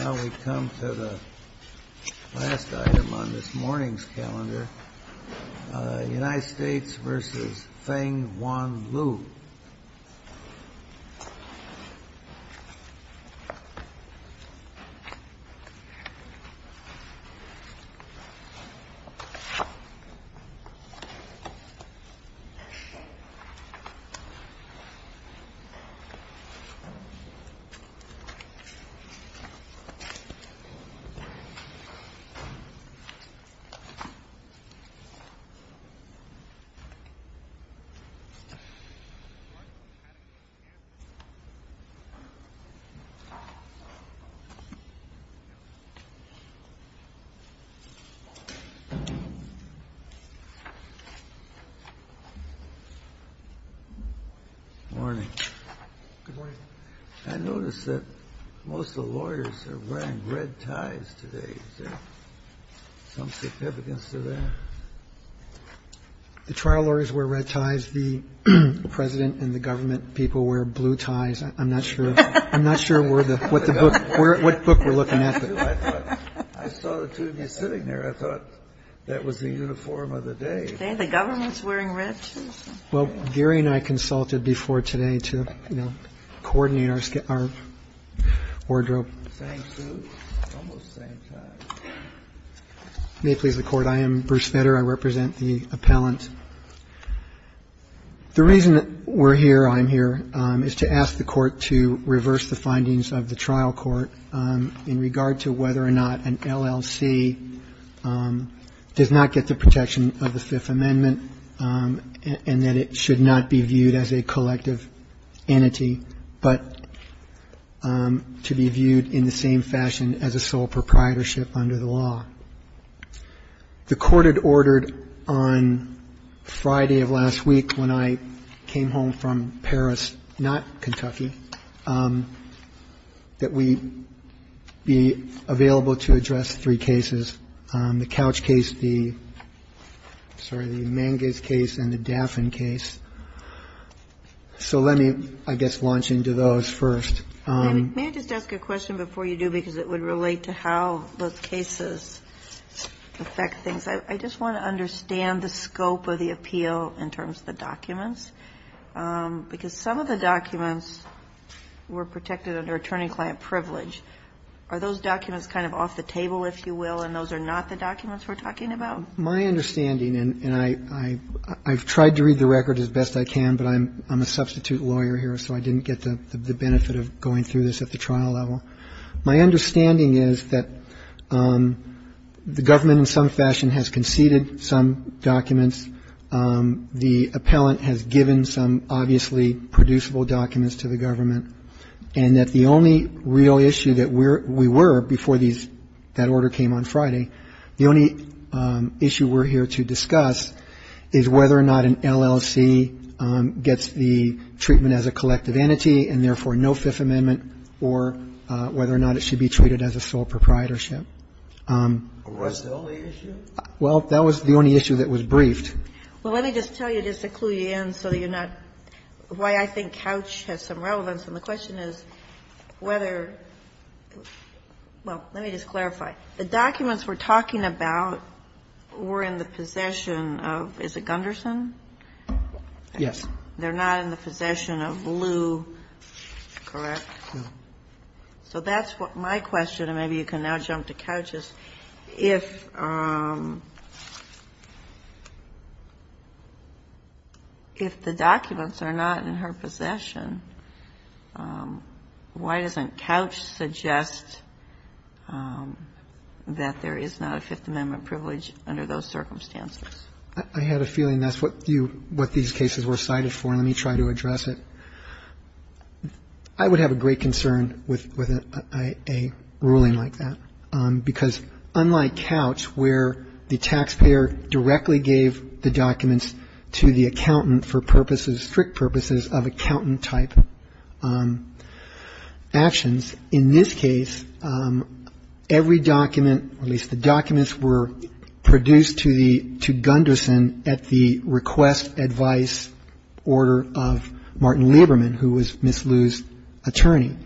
Now we come to the last item on this morning's calendar, United States v. Feng Wan Lu. Good morning. I notice that most of the lawyers are wearing red ties today. Is there some significance to that? The trial lawyers wear red ties. The President and the government people wear blue ties. I'm not sure what book we're looking at. I saw the two of you sitting there. I thought that was the uniform of the day. The government's wearing red too? Well, Gary and I consulted before today to, you know, coordinate our wardrobe. Same suit? Almost same tie. May it please the Court, I am Bruce Fetter. I represent the appellant. The reason we're here, I'm here, is to ask the Court to reverse the findings of the trial court in regard to whether or not an LLC does not get the protection of the Fifth Amendment and that it should not be viewed as a collective entity but to be viewed in the same fashion as a sole proprietorship under the law. The Court had ordered on Friday of last week when I came home from Paris, not Kentucky, that we be available to address three cases. The Couch case, the Manges case, and the Daffin case. So let me, I guess, launch into those first. May I just ask a question before you do because it would relate to how those cases affect things? I just want to understand the scope of the appeal in terms of the documents because some of the documents were protected under attorney-client privilege. Are those documents kind of off the table, if you will, and those are not the documents we're talking about? My understanding, and I've tried to read the record as best I can, but I'm a substitute lawyer here so I didn't get the benefit of going through this at the trial level. My understanding is that the government in some fashion has conceded some documents. The appellant has given some obviously producible documents to the government and that the only real issue that we were before these, that order came on Friday, the only issue we're here to discuss is whether or not an LLC gets the treatment as a collective entity and therefore no Fifth Amendment or whether or not it should be treated as a sole proprietorship. What's the only issue? Well, that was the only issue that was briefed. Well, let me just tell you just to clue you in so that you're not, why I think Couch has some relevance, and the question is whether, well, let me just clarify. The documents we're talking about were in the possession of, is it Gunderson? Yes. They're not in the possession of Lew, correct? No. So that's what my question, and maybe you can now jump to Couch's. If the documents are not in her possession, why doesn't Couch suggest that there is not a Fifth Amendment privilege under those circumstances? I had a feeling that's what these cases were cited for. Let me try to address it. I would have a great concern with a ruling like that, because unlike Couch, where the taxpayer directly gave the documents to the accountant for purposes, strict purposes of accountant-type actions, in this case, every document, at least the documents were produced to Gunderson at the request, advice order of Martin Lieberman, who was Ms. Lew's attorney.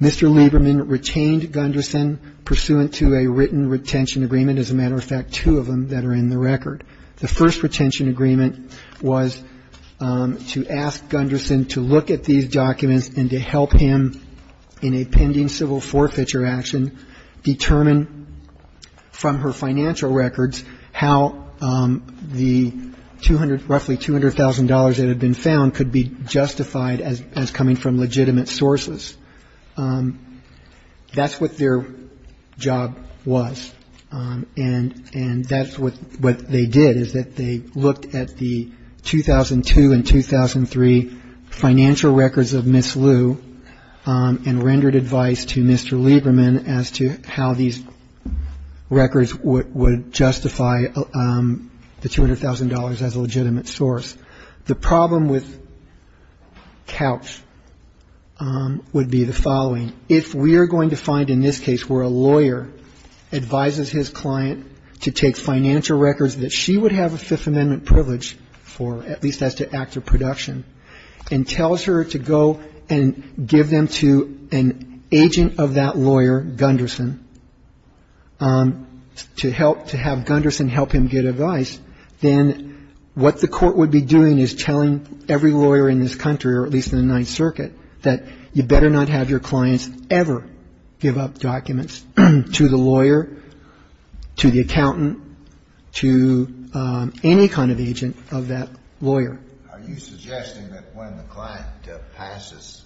Mr. Lieberman retained Gunderson pursuant to a written retention agreement. As a matter of fact, two of them that are in the record. The first retention agreement was to ask Gunderson to look at these documents and to help him in a pending civil forfeiture action determine from her financial records how the roughly $200,000 that had been found could be justified as coming from legitimate sources. That's what their job was, and that's what they did is that they looked at the 2002 and 2003 financial records of Ms. Lew and rendered advice to Mr. Lieberman as to how these records would justify the $200,000 as a legitimate source. The problem with Couch would be the following. If we are going to find in this case where a lawyer advises his client to take financial records that she would have a Fifth Amendment privilege for, at least as to actor production, and tells her to go and give them to an agent of that lawyer, Gunderson, to help to have Gunderson help him get advice, then what the Court would be doing is telling every lawyer in this country, or at least in the Ninth Circuit, that you better not have your clients ever give up documents to the lawyer, to the accountant, to any kind of agent of that lawyer. Are you suggesting that when the client passes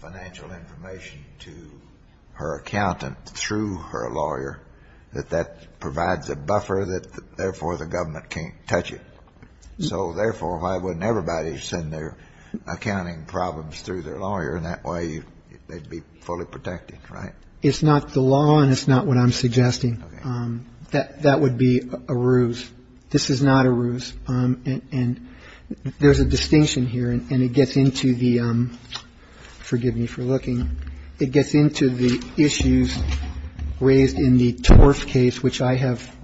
financial information to her accountant through her lawyer, that that provides a buffer that, therefore, the government can't touch it? So, therefore, why wouldn't everybody send their accounting problems through their lawyer, and that way they'd be fully protected, right? It's not the law, and it's not what I'm suggesting. That would be a ruse. This is not a ruse. And there's a distinction here, and it gets into the issues raised in the Torf case, which I have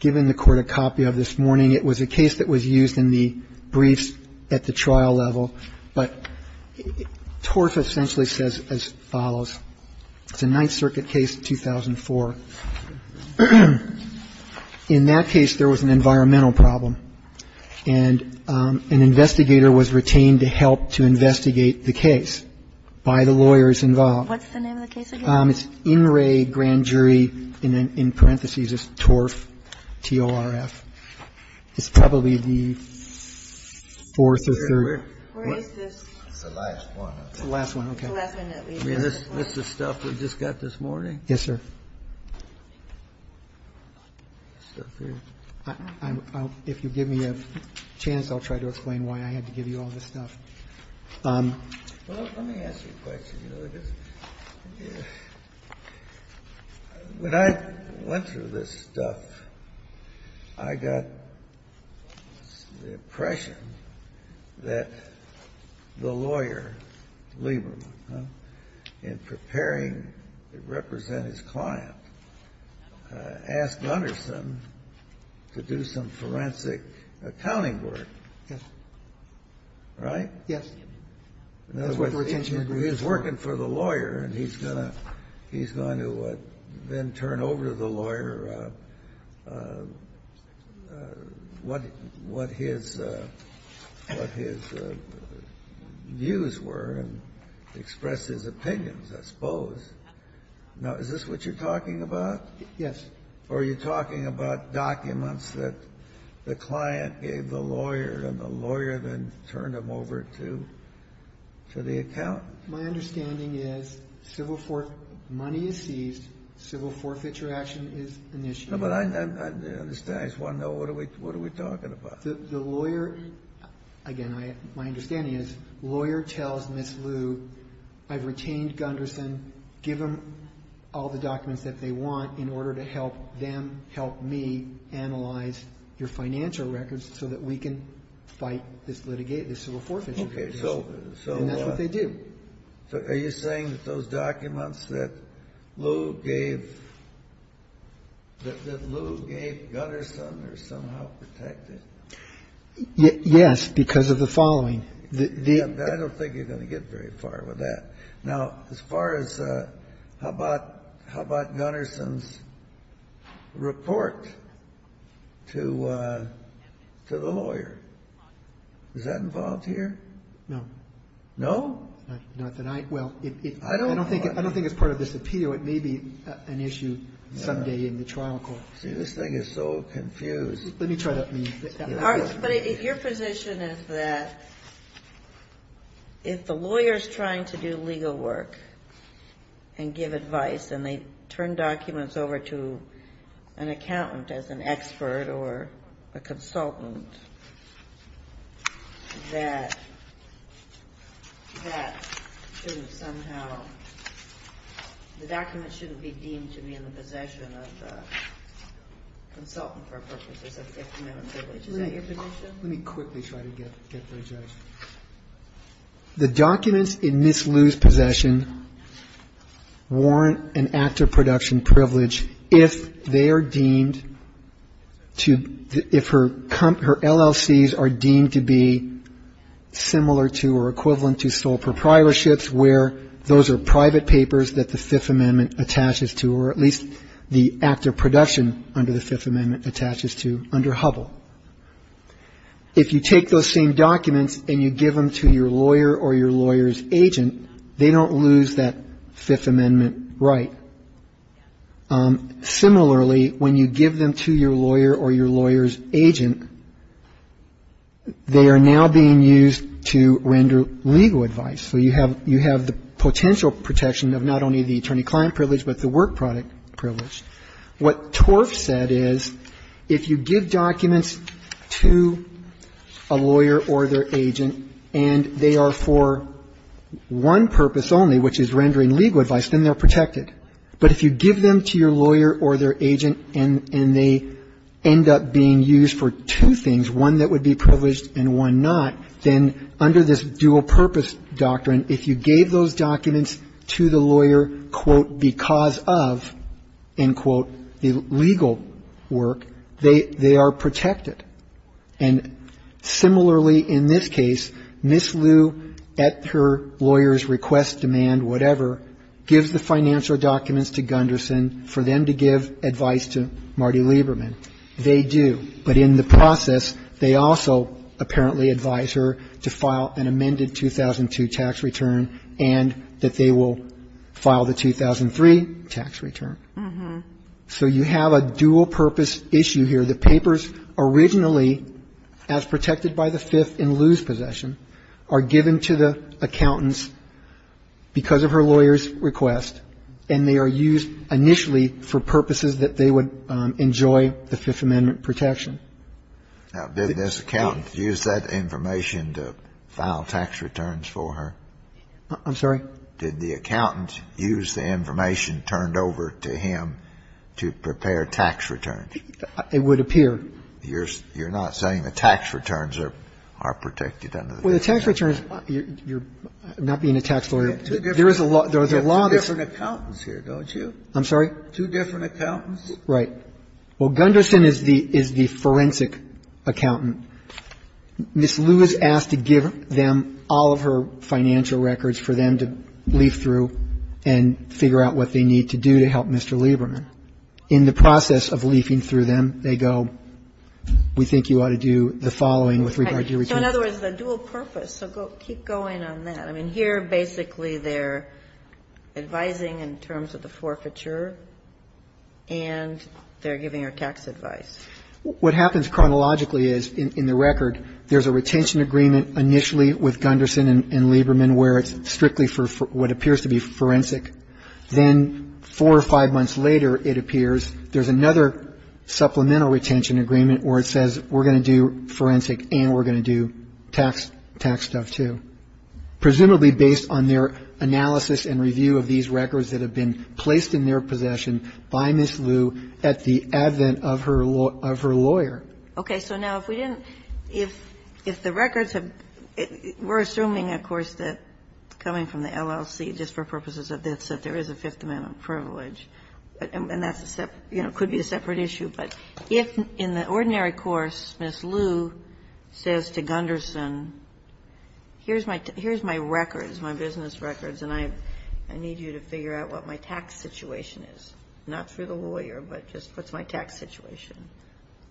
given the Court a copy of this morning. It was a case that was used in the briefs at the trial level. But Torf essentially says as follows. It's a Ninth Circuit case, 2004. In that case, there was an environmental problem, and an investigator was retained to help to investigate the case by the lawyers involved. What's the name of the case again? It's In Re Grand Jury, and then in parentheses it's Torf, T-O-R-F. It's probably the fourth or third. Where is this? It's the last one, I think. The last one, okay. It's the last one that we have. That's the stuff we just got this morning? Yes, sir. If you'll give me a chance, I'll try to explain why I had to give you all this stuff. Well, let me ask you a question. When I went through this stuff, I got the impression that the lawyer, Lieberman, in preparing to represent his client, asked Gunderson to do some forensic accounting work. Yes. Right? Yes. In other words, he was working for the lawyer, and he's going to then turn over to the lawyer what his views were and express his opinions, I suppose. Now, is this what you're talking about? Yes. Or are you talking about documents that the client gave the lawyer, and the lawyer then turned them over to the accountant? My understanding is money is seized, civil forfeiture action is initiated. No, but I understand. I just want to know, what are we talking about? The lawyer, again, my understanding is lawyer tells Ms. Lu, I've retained Gunderson, give them all the documents that they want in order to help them help me analyze your financial records so that we can fight this litigation, this civil forfeiture. Okay. And that's what they do. So are you saying that those documents that Lu gave Gunderson are somehow protected? Yes, because of the following. I don't think you're going to get very far with that. Now, as far as how about Gunderson's report to the lawyer? Is that involved here? No. No? Not that I, well, I don't think it's part of this appeal. It may be an issue someday in the trial court. See, this thing is so confused. Let me try that for you. But your position is that if the lawyer is trying to do legal work and give advice and they turn documents over to an accountant as an expert or a consultant, that that shouldn't somehow, the documents shouldn't be deemed to be in the possession of the consultant for purposes of gift amendment privilege. Is that your position? Let me quickly try to get their judgment. The documents in Ms. Lu's possession warrant an act of production privilege if they are deemed to, if her LLCs are deemed to be similar to or equivalent to sole proprietorships where those are private papers that the Fifth Amendment attaches to or at least the act of production under the Fifth Amendment attaches to under Hubble. If you take those same documents and you give them to your lawyer or your lawyer's agent, they don't lose that Fifth Amendment right. Similarly, when you give them to your lawyer or your lawyer's agent, they are now being used to render legal advice. So you have the potential protection of not only the attorney-client privilege but the work product privilege. What Torf said is if you give documents to a lawyer or their agent and they are for one purpose only, which is rendering legal advice, then they're protected. But if you give them to your lawyer or their agent and they end up being used for two things, one that would be privileged and one not, then under this dual-purpose doctrine, if you gave those documents to the lawyer, quote, because of, end quote, the legal work, they are protected. And similarly in this case, Ms. Liu at her lawyer's request, demand, whatever, gives the financial documents to Gunderson for them to give advice to Marty Lieberman. They do. But in the process, they also apparently advise her to file an amended 2002 tax return and that they will file the 2003 tax return. So you have a dual-purpose issue here. The papers originally, as protected by the Fifth in Liu's possession, are given to the accountants because of her lawyer's request, and they are used initially for purposes that they would enjoy the Fifth Amendment protection. Now, did this accountant use that information to file tax returns for her? I'm sorry? Did the accountant use the information turned over to him to prepare tax returns? It would appear. You're not saying the tax returns are protected under the definition? Well, the tax returns, you're not being a tax lawyer. There is a law. There are different accountants here, don't you? I'm sorry? Two different accountants. Right. Well, Gunderson is the forensic accountant. Ms. Liu is asked to give them all of her financial records for them to leaf through and figure out what they need to do to help Mr. Lieberman. In the process of leafing through them, they go, we think you ought to do the following with regard to your request. So in other words, the dual purpose. So keep going on that. I mean, here basically they're advising in terms of the forfeiture and they're giving her tax advice. What happens chronologically is, in the record, there's a retention agreement initially with Gunderson and Lieberman where it's strictly for what appears to be forensic. Then four or five months later, it appears there's another supplemental retention agreement where it says we're going to do forensic and we're going to do tax stuff, too. And then, presumably, based on their analysis and review of these records that have been placed in their possession by Ms. Liu at the advent of her lawyer. Okay. So now if we didn't – if the records have – we're assuming, of course, that coming from the LLC, just for purposes of this, that there is a Fifth Amendment privilege. And that's a separate – you know, could be a separate issue. But if in the ordinary course, Ms. Liu says to Gunderson, here's my – here's my records, my business records, and I need you to figure out what my tax situation is, not through the lawyer, but just what's my tax situation,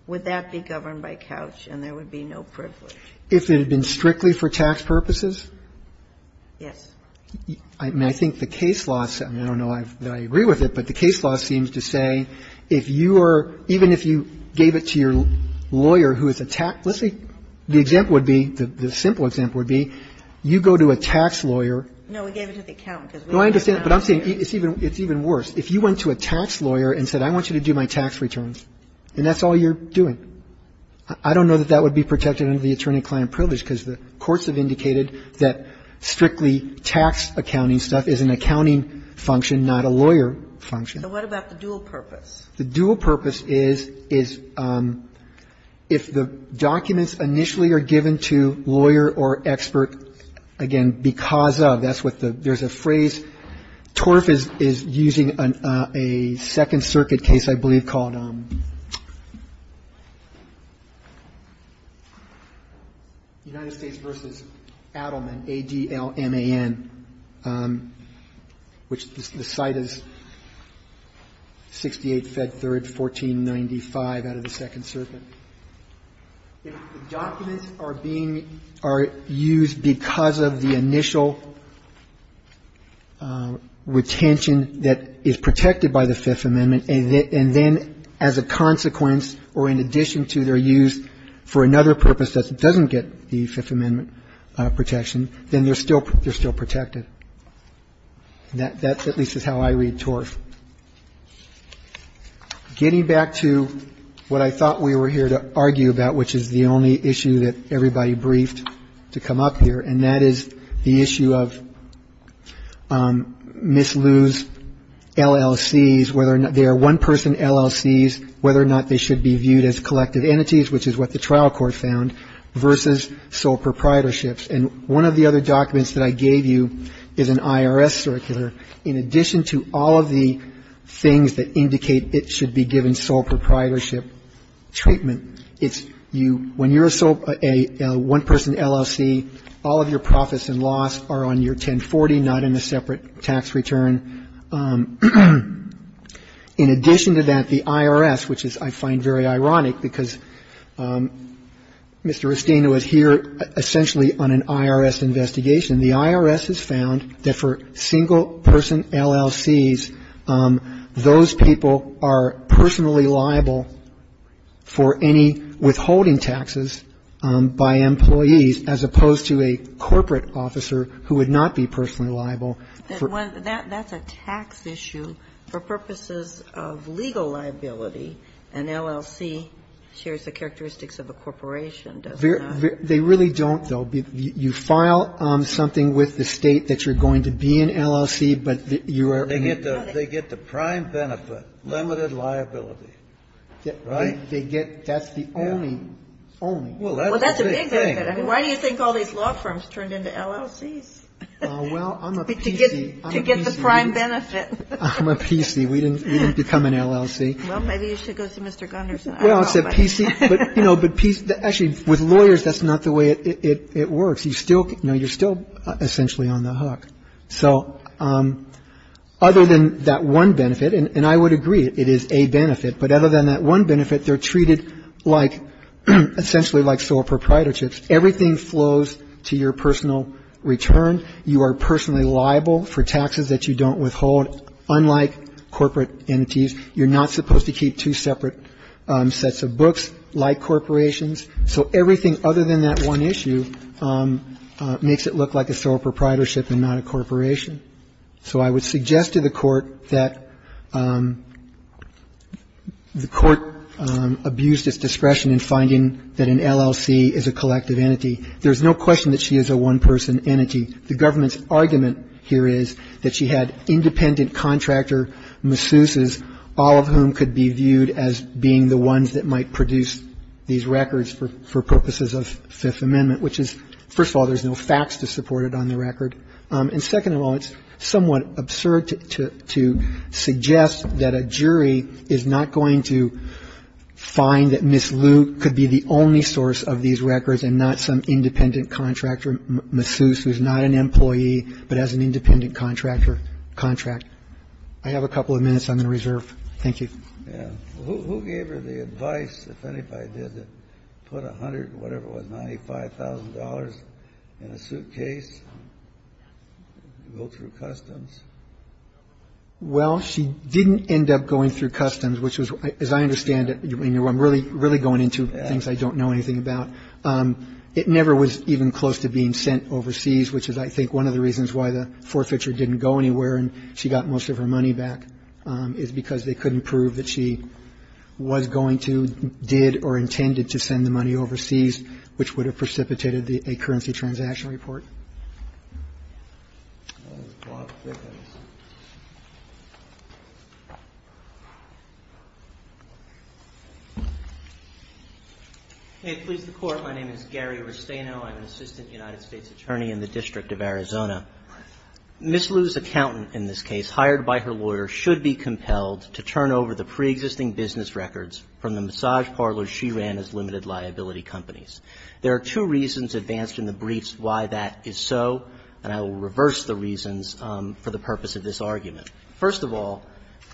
would that be governed by Couch and there would be no privilege? If it had been strictly for tax purposes? Yes. I mean, I think the case law – I mean, I don't know that I agree with it, but the Even if you gave it to your lawyer who is a – let's say the example would be – the simple example would be you go to a tax lawyer. No, we gave it to the accountant. No, I understand. But I'm saying it's even worse. If you went to a tax lawyer and said, I want you to do my tax returns, and that's all you're doing, I don't know that that would be protected under the attorney-client privilege because the courts have indicated that strictly tax accounting stuff is an accounting function, not a lawyer function. So what about the dual purpose? The dual purpose is, is if the documents initially are given to lawyer or expert, again, because of – that's what the – there's a phrase. TORF is using a Second Circuit case, I believe, called United States v. Adelman, which the site is 68 Fed Third 1495 out of the Second Circuit. If the documents are being – are used because of the initial retention that is protected by the Fifth Amendment, and then as a consequence or in addition to their use for another purpose that doesn't get the Fifth Amendment protection, then they're still – they're still protected. That at least is how I read TORF. Getting back to what I thought we were here to argue about, which is the only issue that everybody briefed to come up here, and that is the issue of misuse LLCs, whether they are one-person LLCs, whether or not they should be viewed as collective entities, which is what the trial court found, versus sole proprietorships. And one of the other documents that I gave you is an IRS circular. In addition to all of the things that indicate it should be given sole proprietorship treatment, it's you – when you're a one-person LLC, all of your profits and loss are on your 1040, not in a separate tax return. In addition to that, the IRS, which is, I find, very ironic, because Mr. Rustino is here essentially on an IRS investigation. The IRS has found that for single-person LLCs, those people are personally liable for any withholding taxes by employees as opposed to a corporate officer who would not be personally liable for – And that's a tax issue for purposes of legal liability. An LLC shares the characteristics of a corporation, does not it? They really don't, though. You file something with the State that you're going to be an LLC, but you are – They get the prime benefit, limited liability. Right? They get – that's the only – only. Well, that's a big thing. I mean, why do you think all these law firms turned into LLCs? Well, I'm a PC. To get the prime benefit. I'm a PC. We didn't become an LLC. Well, maybe you should go see Mr. Gunderson. Well, except PC – but, you know, but – actually, with lawyers, that's not the way it works. You still – you know, you're still essentially on the hook. So other than that one benefit, and I would agree, it is a benefit, but other than that one benefit, they're treated like – essentially like sole proprietorships. Everything flows to your personal return. You are personally liable for taxes that you don't withhold. Unlike corporate entities, you're not supposed to keep two separate sets of books like corporations. So everything other than that one issue makes it look like a sole proprietorship and not a corporation. So I would suggest to the Court that the Court abused its discretion in finding that an LLC is a collective entity. There's no question that she is a one-person entity. The government's argument here is that she had independent contractor masseuses, all of whom could be viewed as being the ones that might produce these records for purposes of Fifth Amendment, which is, first of all, there's no facts to support it on the record. And second of all, it's somewhat absurd to suggest that a jury is not going to find that Ms. Luke could be the only source of these records and not some independent contractor masseuse who's not an employee but has an independent contractor contract. I have a couple of minutes I'm going to reserve. Thank you. Who gave her the advice, if anybody did, to put $100,000 or whatever it was, $95,000 in a suitcase to go through customs? Well, she didn't end up going through customs, which was, as I understand it, I'm really going into things I don't know anything about. It never was even close to being sent overseas, which is, I think, one of the reasons why the forfeiture didn't go anywhere and she got most of her money back, is because they couldn't prove that she was going to, did or intended to send the money overseas, which would have precipitated a currency transaction report. May it please the Court. My name is Gary Restaino. I'm an assistant United States attorney in the District of Arizona. Ms. Liu's accountant in this case, hired by her lawyer, should be compelled to turn over the preexisting business records from the massage parlors she ran as limited liability companies. There are two reasons advanced in the briefs why that is so, and I will reverse the reasons for the purpose of this argument. First of all,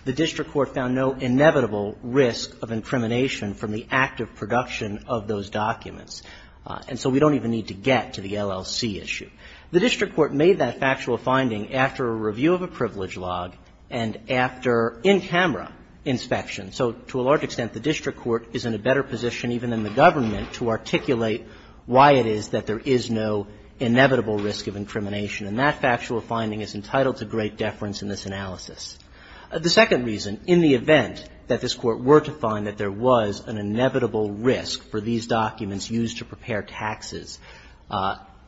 the district court found no inevitable risk of incrimination from the active production of those documents. And so we don't even need to get to the LLC issue. The district court made that factual finding after a review of a privilege log and after in-camera inspection. So to a large extent, the district court is in a better position even than the government to articulate why it is that there is no inevitable risk of incrimination. And that factual finding is entitled to great deference in this analysis. The second reason, in the event that this Court were to find that there was an inevitable risk for these documents used to prepare taxes,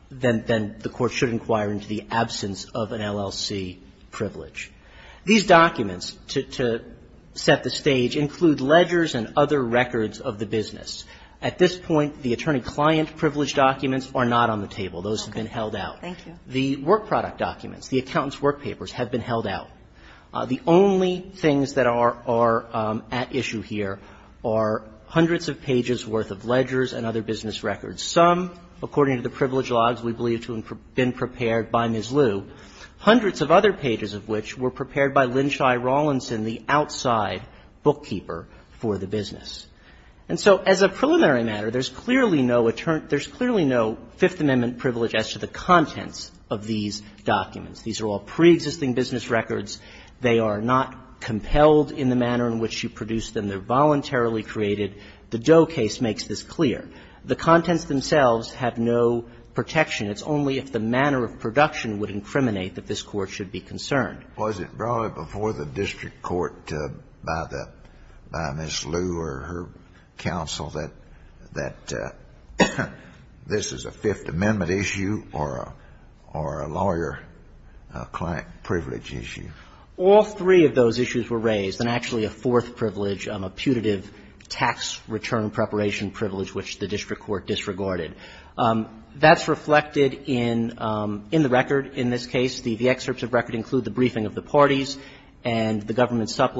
then the Court should inquire into the absence of an LLC privilege. These documents, to set the stage, include ledgers and other records of the business. At this point, the attorney-client privilege documents are not on the table. Those have been held out. The work product documents, the accountant's work papers, have been held out. The only things that are at issue here are hundreds of pages' worth of ledgers and other business records, some, according to the privilege logs, we believe to have been prepared by Ms. Liu, hundreds of other pages of which were prepared by Lynne Shy Rawlinson, the outside bookkeeper for the business. And so as a preliminary matter, there's clearly no Fifth Amendment privilege as to the contents of these documents. These are all preexisting business records. They are not compelled in the manner in which you produce them. They're voluntarily created. The Doe case makes this clear. The contents themselves have no protection. It's only if the manner of production would incriminate that this Court should be concerned. Kennedy, was it brought before the district court by the Ms. Liu or her counsel that this is a Fifth Amendment issue or a lawyer privilege issue? All three of those issues were raised, and actually a fourth privilege, a putative tax return preparation privilege which the district court disregarded. That's reflected in the record in this case. The excerpts of record include the briefing of the parties, and the government's And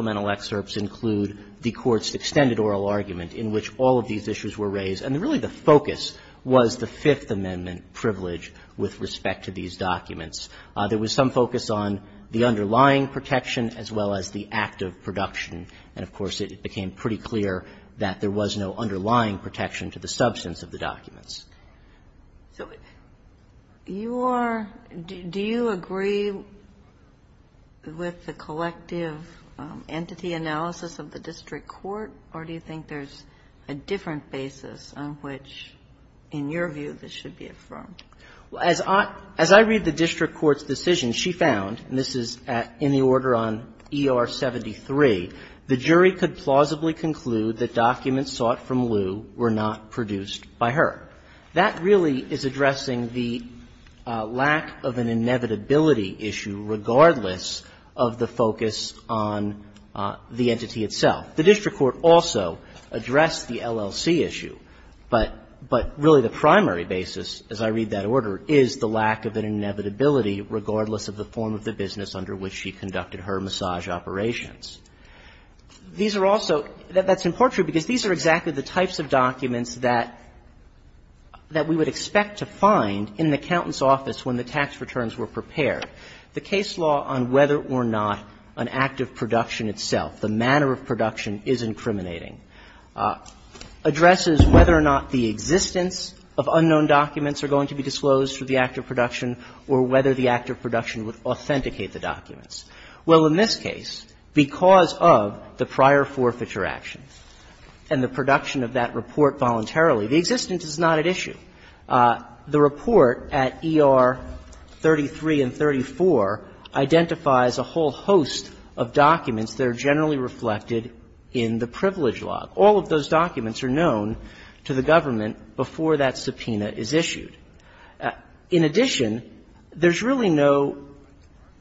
really the focus was the Fifth Amendment privilege with respect to these documents. There was some focus on the underlying protection as well as the act of production. And, of course, it became pretty clear that there was no underlying protection to the substance of the documents. So you are do you agree with the collective entity analysis of the district court, basis on which, in your view, this should be affirmed? Well, as I read the district court's decision, she found, and this is in the order on ER 73, the jury could plausibly conclude that documents sought from Liu were not produced by her. That really is addressing the lack of an inevitability issue regardless of the focus on the entity itself. The district court also addressed the LLC issue. But really the primary basis, as I read that order, is the lack of an inevitability regardless of the form of the business under which she conducted her massage operations. These are also – that's important because these are exactly the types of documents that we would expect to find in the accountant's office when the tax returns were prepared. The case law on whether or not an act of production itself, the manner of production is incriminating, addresses whether or not the existence of unknown documents are going to be disclosed through the act of production or whether the act of production would authenticate the documents. Well, in this case, because of the prior forfeiture action and the production of that report voluntarily, the existence is not at issue. The report at ER 33 and 34 identifies a whole host of documents that are generally reflected in the privilege law. All of those documents are known to the government before that subpoena is issued. In addition, there's really no –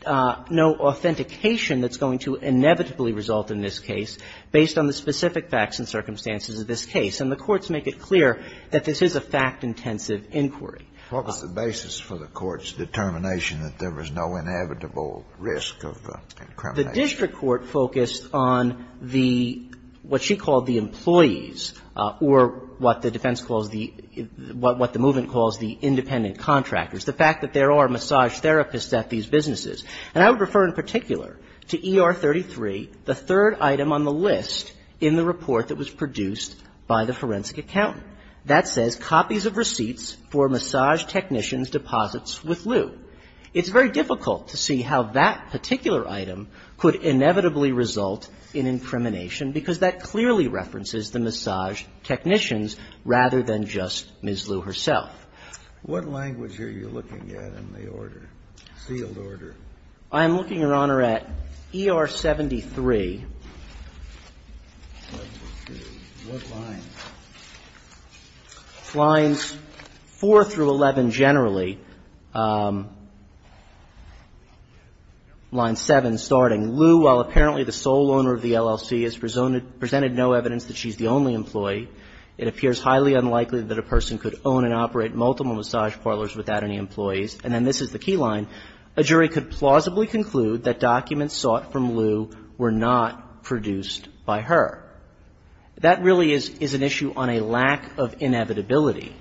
no authentication that's going to inevitably result in this case based on the specific facts and circumstances of this case. And the courts make it clear that this is a fact-intensive inquiry. What was the basis for the court's determination that there was no inevitable risk of incrimination? The district court focused on the – what she called the employees or what the defense calls the – what the movement calls the independent contractors, the fact that there are massage therapists at these businesses. And I would refer in particular to ER 33, the third item on the list in the report that was produced by the forensic accountant. That says copies of receipts for massage technicians' deposits with Lew. It's very difficult to see how that particular item could inevitably result in incrimination because that clearly references the massage technicians rather than just Ms. Lew herself. What language are you looking at in the order, sealed order? I'm looking, Your Honor, at ER 73. Let's see. What lines? Lines 4 through 11 generally. Line 7, starting, Lew, while apparently the sole owner of the LLC, has presented no evidence that she's the only employee. It appears highly unlikely that a person could own and operate multiple massage parlors without any employees. And then this is the key line. A jury could plausibly conclude that documents sought from Lew were not produced by her. That really is an issue on a lack of inevitability.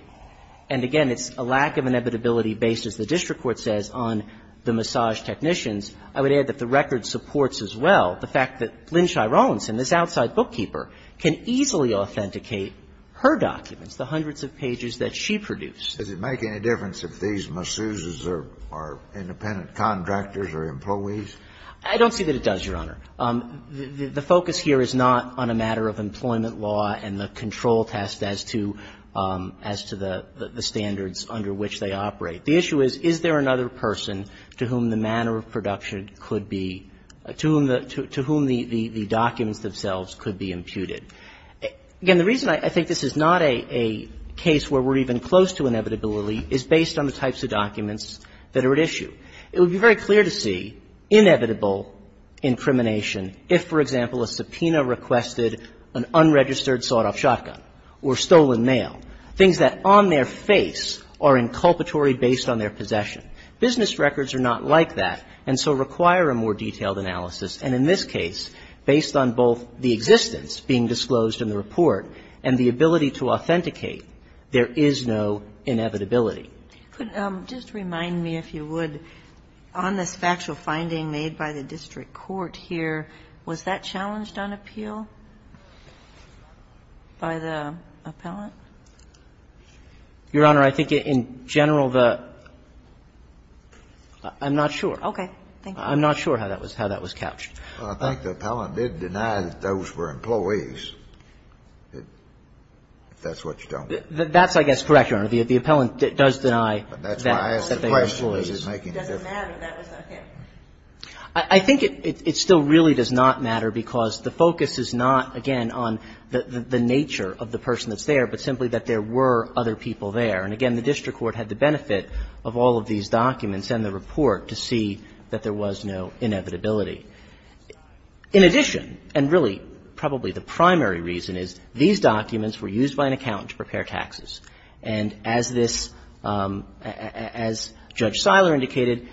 And again, it's a lack of inevitability based, as the district court says, on the massage technicians. I would add that the record supports as well the fact that Lynn Chyronson, this outside bookkeeper, can easily authenticate her documents, the hundreds of pages that she produced. Kennedy, does it make any difference if these masseuses are independent contractors or employees? I don't see that it does, Your Honor. The focus here is not on a matter of employment law and the control test as to, as to the standards under which they operate. The issue is, is there another person to whom the manner of production could be, to whom the documents themselves could be imputed? Again, the reason I think this is not a case where we're even close to inevitability is based on the types of documents that are at issue. It would be very clear to see inevitable incrimination if, for example, a subpoena requested an unregistered sawed-off shotgun or stolen mail, things that on their face are inculpatory based on their possession. Business records are not like that and so require a more detailed analysis. And in this case, based on both the existence being disclosed in the report and the ability to authenticate, there is no inevitability. Could you just remind me, if you would, on this factual finding made by the district court here, was that challenged on appeal by the appellant? Your Honor, I think in general the – I'm not sure. Okay. Thank you. I'm not sure how that was captured. Well, I think the appellant did deny that those were employees, if that's what you're telling me. That's, I guess, correct, Your Honor. The appellant does deny that they were employees. But that's why I asked the question. It doesn't matter if that was not him. I think it still really does not matter because the focus is not, again, on the nature of the person that's there, but simply that there were other people there. And again, the district court had the benefit of all of these documents and the report to see that there was no inevitability. In addition, and really probably the primary reason is, these documents were used by an accountant to prepare taxes. And as this – as Judge Siler indicated,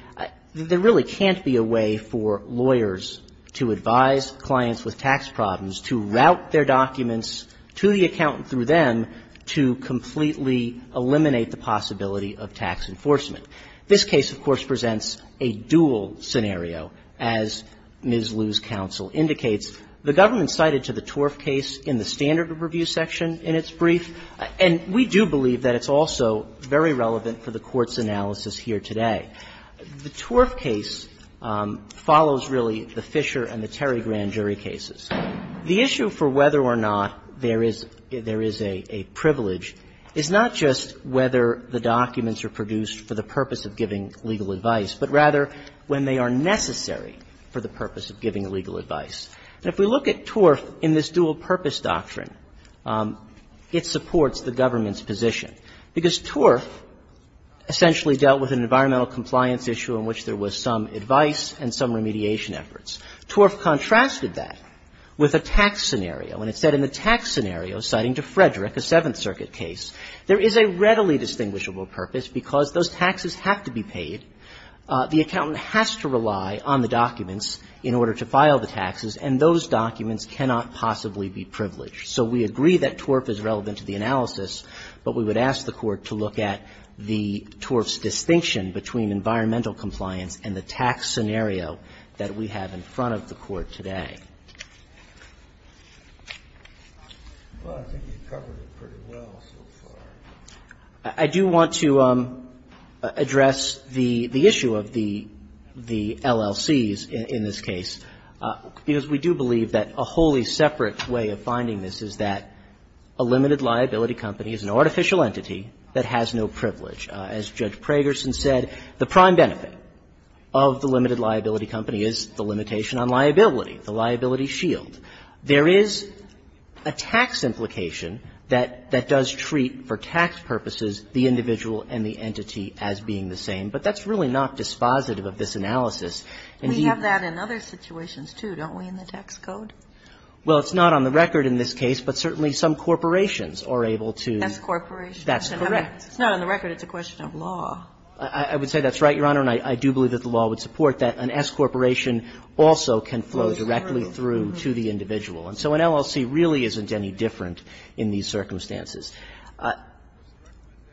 there really can't be a way for lawyers to advise clients with tax problems to route their documents to the accountant through them to completely eliminate the possibility of tax enforcement. This case, of course, presents a dual scenario, as Ms. Liu's counsel indicates. The government cited to the Torf case in the standard of review section in its brief, and we do believe that it's also very relevant for the Court's analysis here today. The Torf case follows really the Fisher and the Terry grand jury cases. The issue for whether or not there is – there is a privilege is not just whether the documents are produced for the purpose of giving legal advice, but rather when they are necessary for the purpose of giving legal advice. And if we look at Torf in this dual-purpose doctrine, it supports the government's position, because Torf essentially dealt with an environmental compliance issue in which there was some advice and some remediation efforts. Torf contrasted that with a tax scenario. And it said in the tax scenario, citing to Frederick, a Seventh Circuit case, there is a readily distinguishable purpose because those taxes have to be paid. The accountant has to rely on the documents in order to file the taxes, and those documents cannot possibly be privileged. So we agree that Torf is relevant to the analysis, but we would ask the Court to look at the Torf's distinction between environmental compliance and the tax scenario that we have in front of the Court today. Well, I think you've covered it pretty well so far. I do want to address the issue of the LLCs in this case, because we do believe that a wholly separate way of finding this is that a limited liability company is an artificial entity that has no privilege. As Judge Pragerson said, the prime benefit of the limited liability company is the liability shield. There is a tax implication that does treat, for tax purposes, the individual and the entity as being the same, but that's really not dispositive of this analysis. Indeed we have that in other situations, too, don't we, in the tax code? Well, it's not on the record in this case, but certainly some corporations are able to. S corporations. That's correct. It's not on the record. It's a question of law. I would say that's right, Your Honor, and I do believe that the law would support that an S corporation also can flow directly through to the individual. And so an LLC really isn't any different in these circumstances.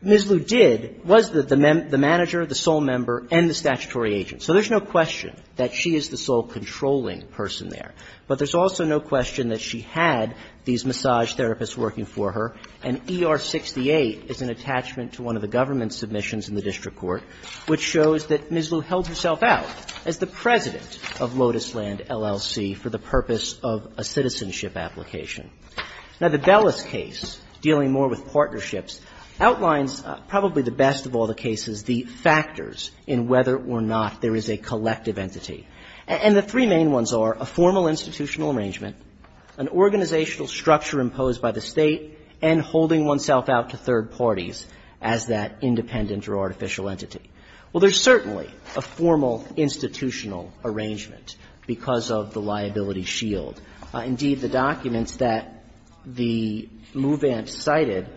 Ms. Liu did, was the manager, the sole member, and the statutory agent. So there's no question that she is the sole controlling person there, but there's also no question that she had these massage therapists working for her, and ER-68 is an attachment to one of the government submissions in the district court which shows that Ms. Liu held herself out as the president of Lotusland LLC for the purpose of a citizenship application. Now, the Bellis case, dealing more with partnerships, outlines probably the best of all the cases, the factors in whether or not there is a collective entity. And the three main ones are a formal institutional arrangement, an organizational structure imposed by the State, and holding oneself out to third parties as that There's certainly a formal institutional arrangement because of the liability shield. Indeed, the documents that the move-in cited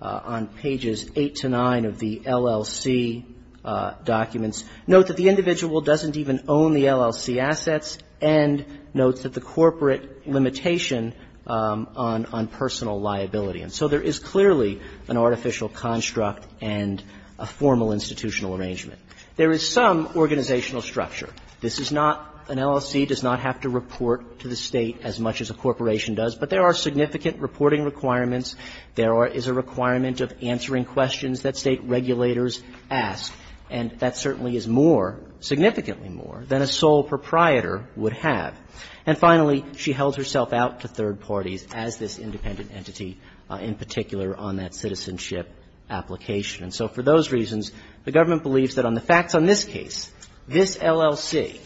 on pages 8 to 9 of the LLC documents note that the individual doesn't even own the LLC assets and notes that the corporate limitation on personal liability. And so there is clearly an artificial construct and a formal institutional arrangement. There is some organizational structure. This is not an LLC does not have to report to the State as much as a corporation does, but there are significant reporting requirements. There is a requirement of answering questions that State regulators ask, and that certainly is more, significantly more, than a sole proprietor would have. And finally, she held herself out to third parties as this independent entity, in particular on that citizenship application. And so for those reasons, the government believes that on the facts on this case, this LLC,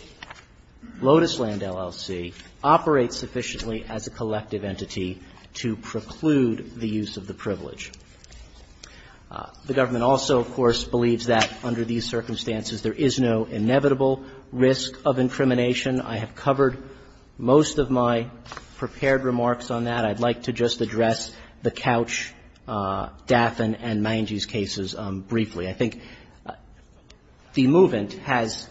Lotus Land LLC, operates sufficiently as a collective entity to preclude the use of the privilege. The government also, of course, believes that under these circumstances there is no inevitable risk of incrimination. I have covered most of my prepared remarks on that. I'd like to just address the Couch, Daffin and Mangese cases briefly. I think the movement has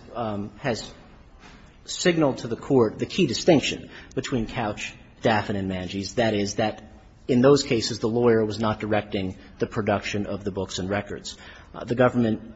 signaled to the Court the key distinction between Couch, Daffin and Mangese, that is that in those cases the lawyer was not directing the production of the books and records. The government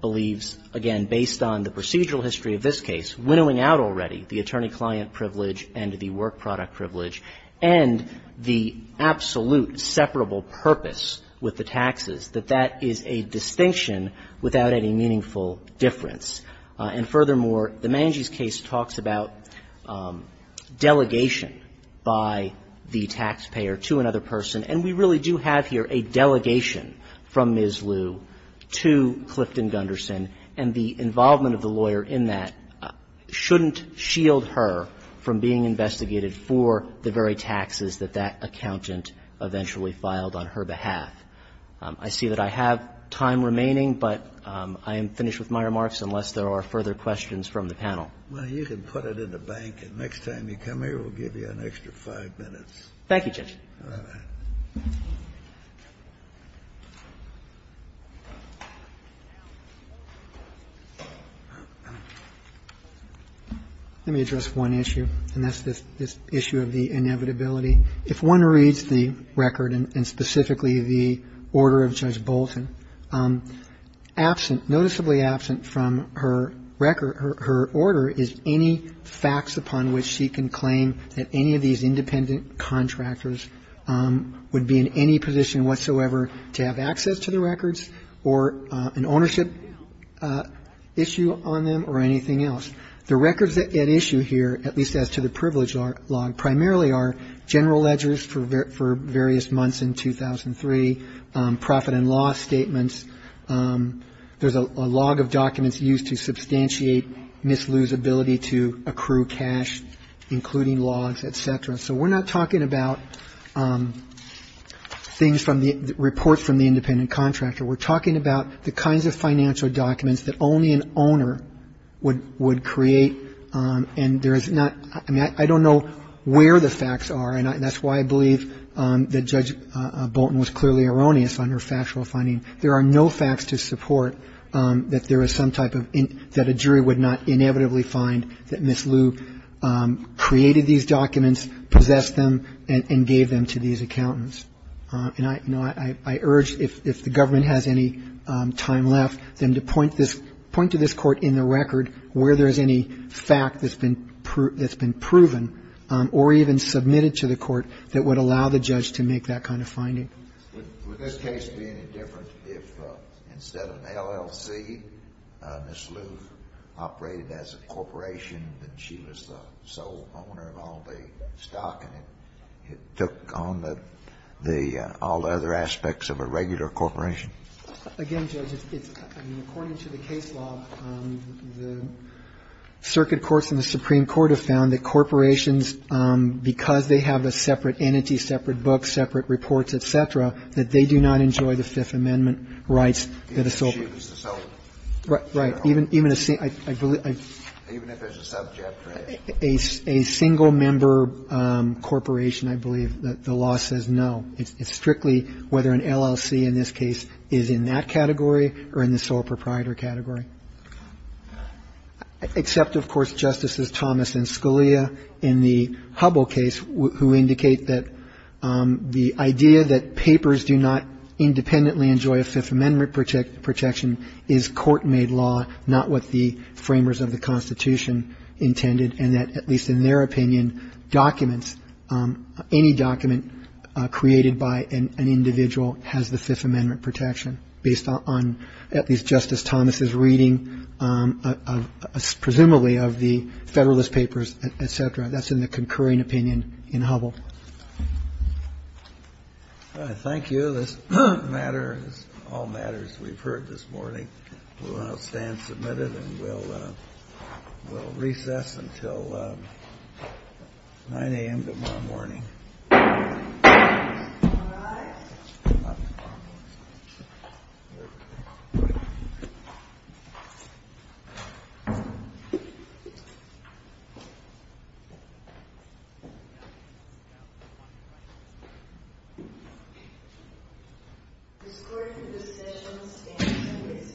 believes, again, based on the procedural history of this case, winnowing out already the attorney-client privilege and the work product privilege, and the absolute separable purpose with the taxes, that that is a distinction without any meaningful difference. And furthermore, the Mangese case talks about delegation by the taxpayer to another person, and we really do have here a delegation from Ms. Liu to Clifton Gunderson, and the involvement of the lawyer in that shouldn't shield her from being investigated for the very taxes that that accountant eventually filed on her behalf. I see that I have time remaining, but I am finished with my remarks unless there are further questions from the panel. Kennedy, you can put it in the bank, and next time you come here we'll give you an extra five minutes. Thank you, Judge. Let me address one issue, and that's this issue of the inevitability. If one reads the record and specifically the order of Judge Bolton, absent, noticeably absent from her record, her order is any facts upon which she can claim that any of these independent contractors would be in any position whatsoever to have access to the records or an ownership issue on them or anything else. The records at issue here, at least as to the privilege log, primarily are general ledgers for various months in 2003, profit and loss statements. There's a log of documents used to substantiate Ms. Liu's ability to accrue cash, including logs, et cetera. So we're not talking about things from the report from the independent contractor. We're talking about the kinds of financial documents that only an owner would create, and there is not – I mean, I don't know where the facts are, and that's why I believe that Judge Bolton was clearly erroneous on her factual finding. There are no facts to support that there is some type of – that a jury would not inevitably find that Ms. Liu created these documents, possessed them, and gave them to these accountants. And I urge, if the government has any time left, then to point to this court in the record where there's any fact that's been proven or even submitted to the court that would allow the judge to make that kind of finding. Would this case be any different if, instead of LLC, Ms. Liu operated as a corporation and she was the sole owner of all the stock and it took on the – all the other aspects of a regular corporation? Again, Judge, it's – I mean, according to the case law, the circuit courts and the Supreme Court have found that corporations, because they have a separate entity, separate book, separate reports, et cetera, that they do not enjoy the Fifth Amendment rights that a sole – Even if she was the sole owner? Right. Even a – I believe – Even if it's a subject, right? A single-member corporation, I believe, the law says no. It's strictly whether an LLC in this case is in that category or in the sole proprietor category. Except, of course, Justices Thomas and Scalia in the Hubble case who indicate that the idea that papers do not independently enjoy a Fifth Amendment protection is court-made law, not what the framers of the Constitution intended, and that, at least in their opinion, documents – any document created by an individual has the Fifth Amendment protection based on at least Justice Thomas's reading of – presumably of the Federalist papers, et cetera. That's in the concurring opinion in Hubble. All right. Thank you. This matter is all matters we've heard this morning. We'll now stand submitted and we'll recess until 9 a.m. tomorrow morning. All rise. This court in this session stands in recess. Thank you.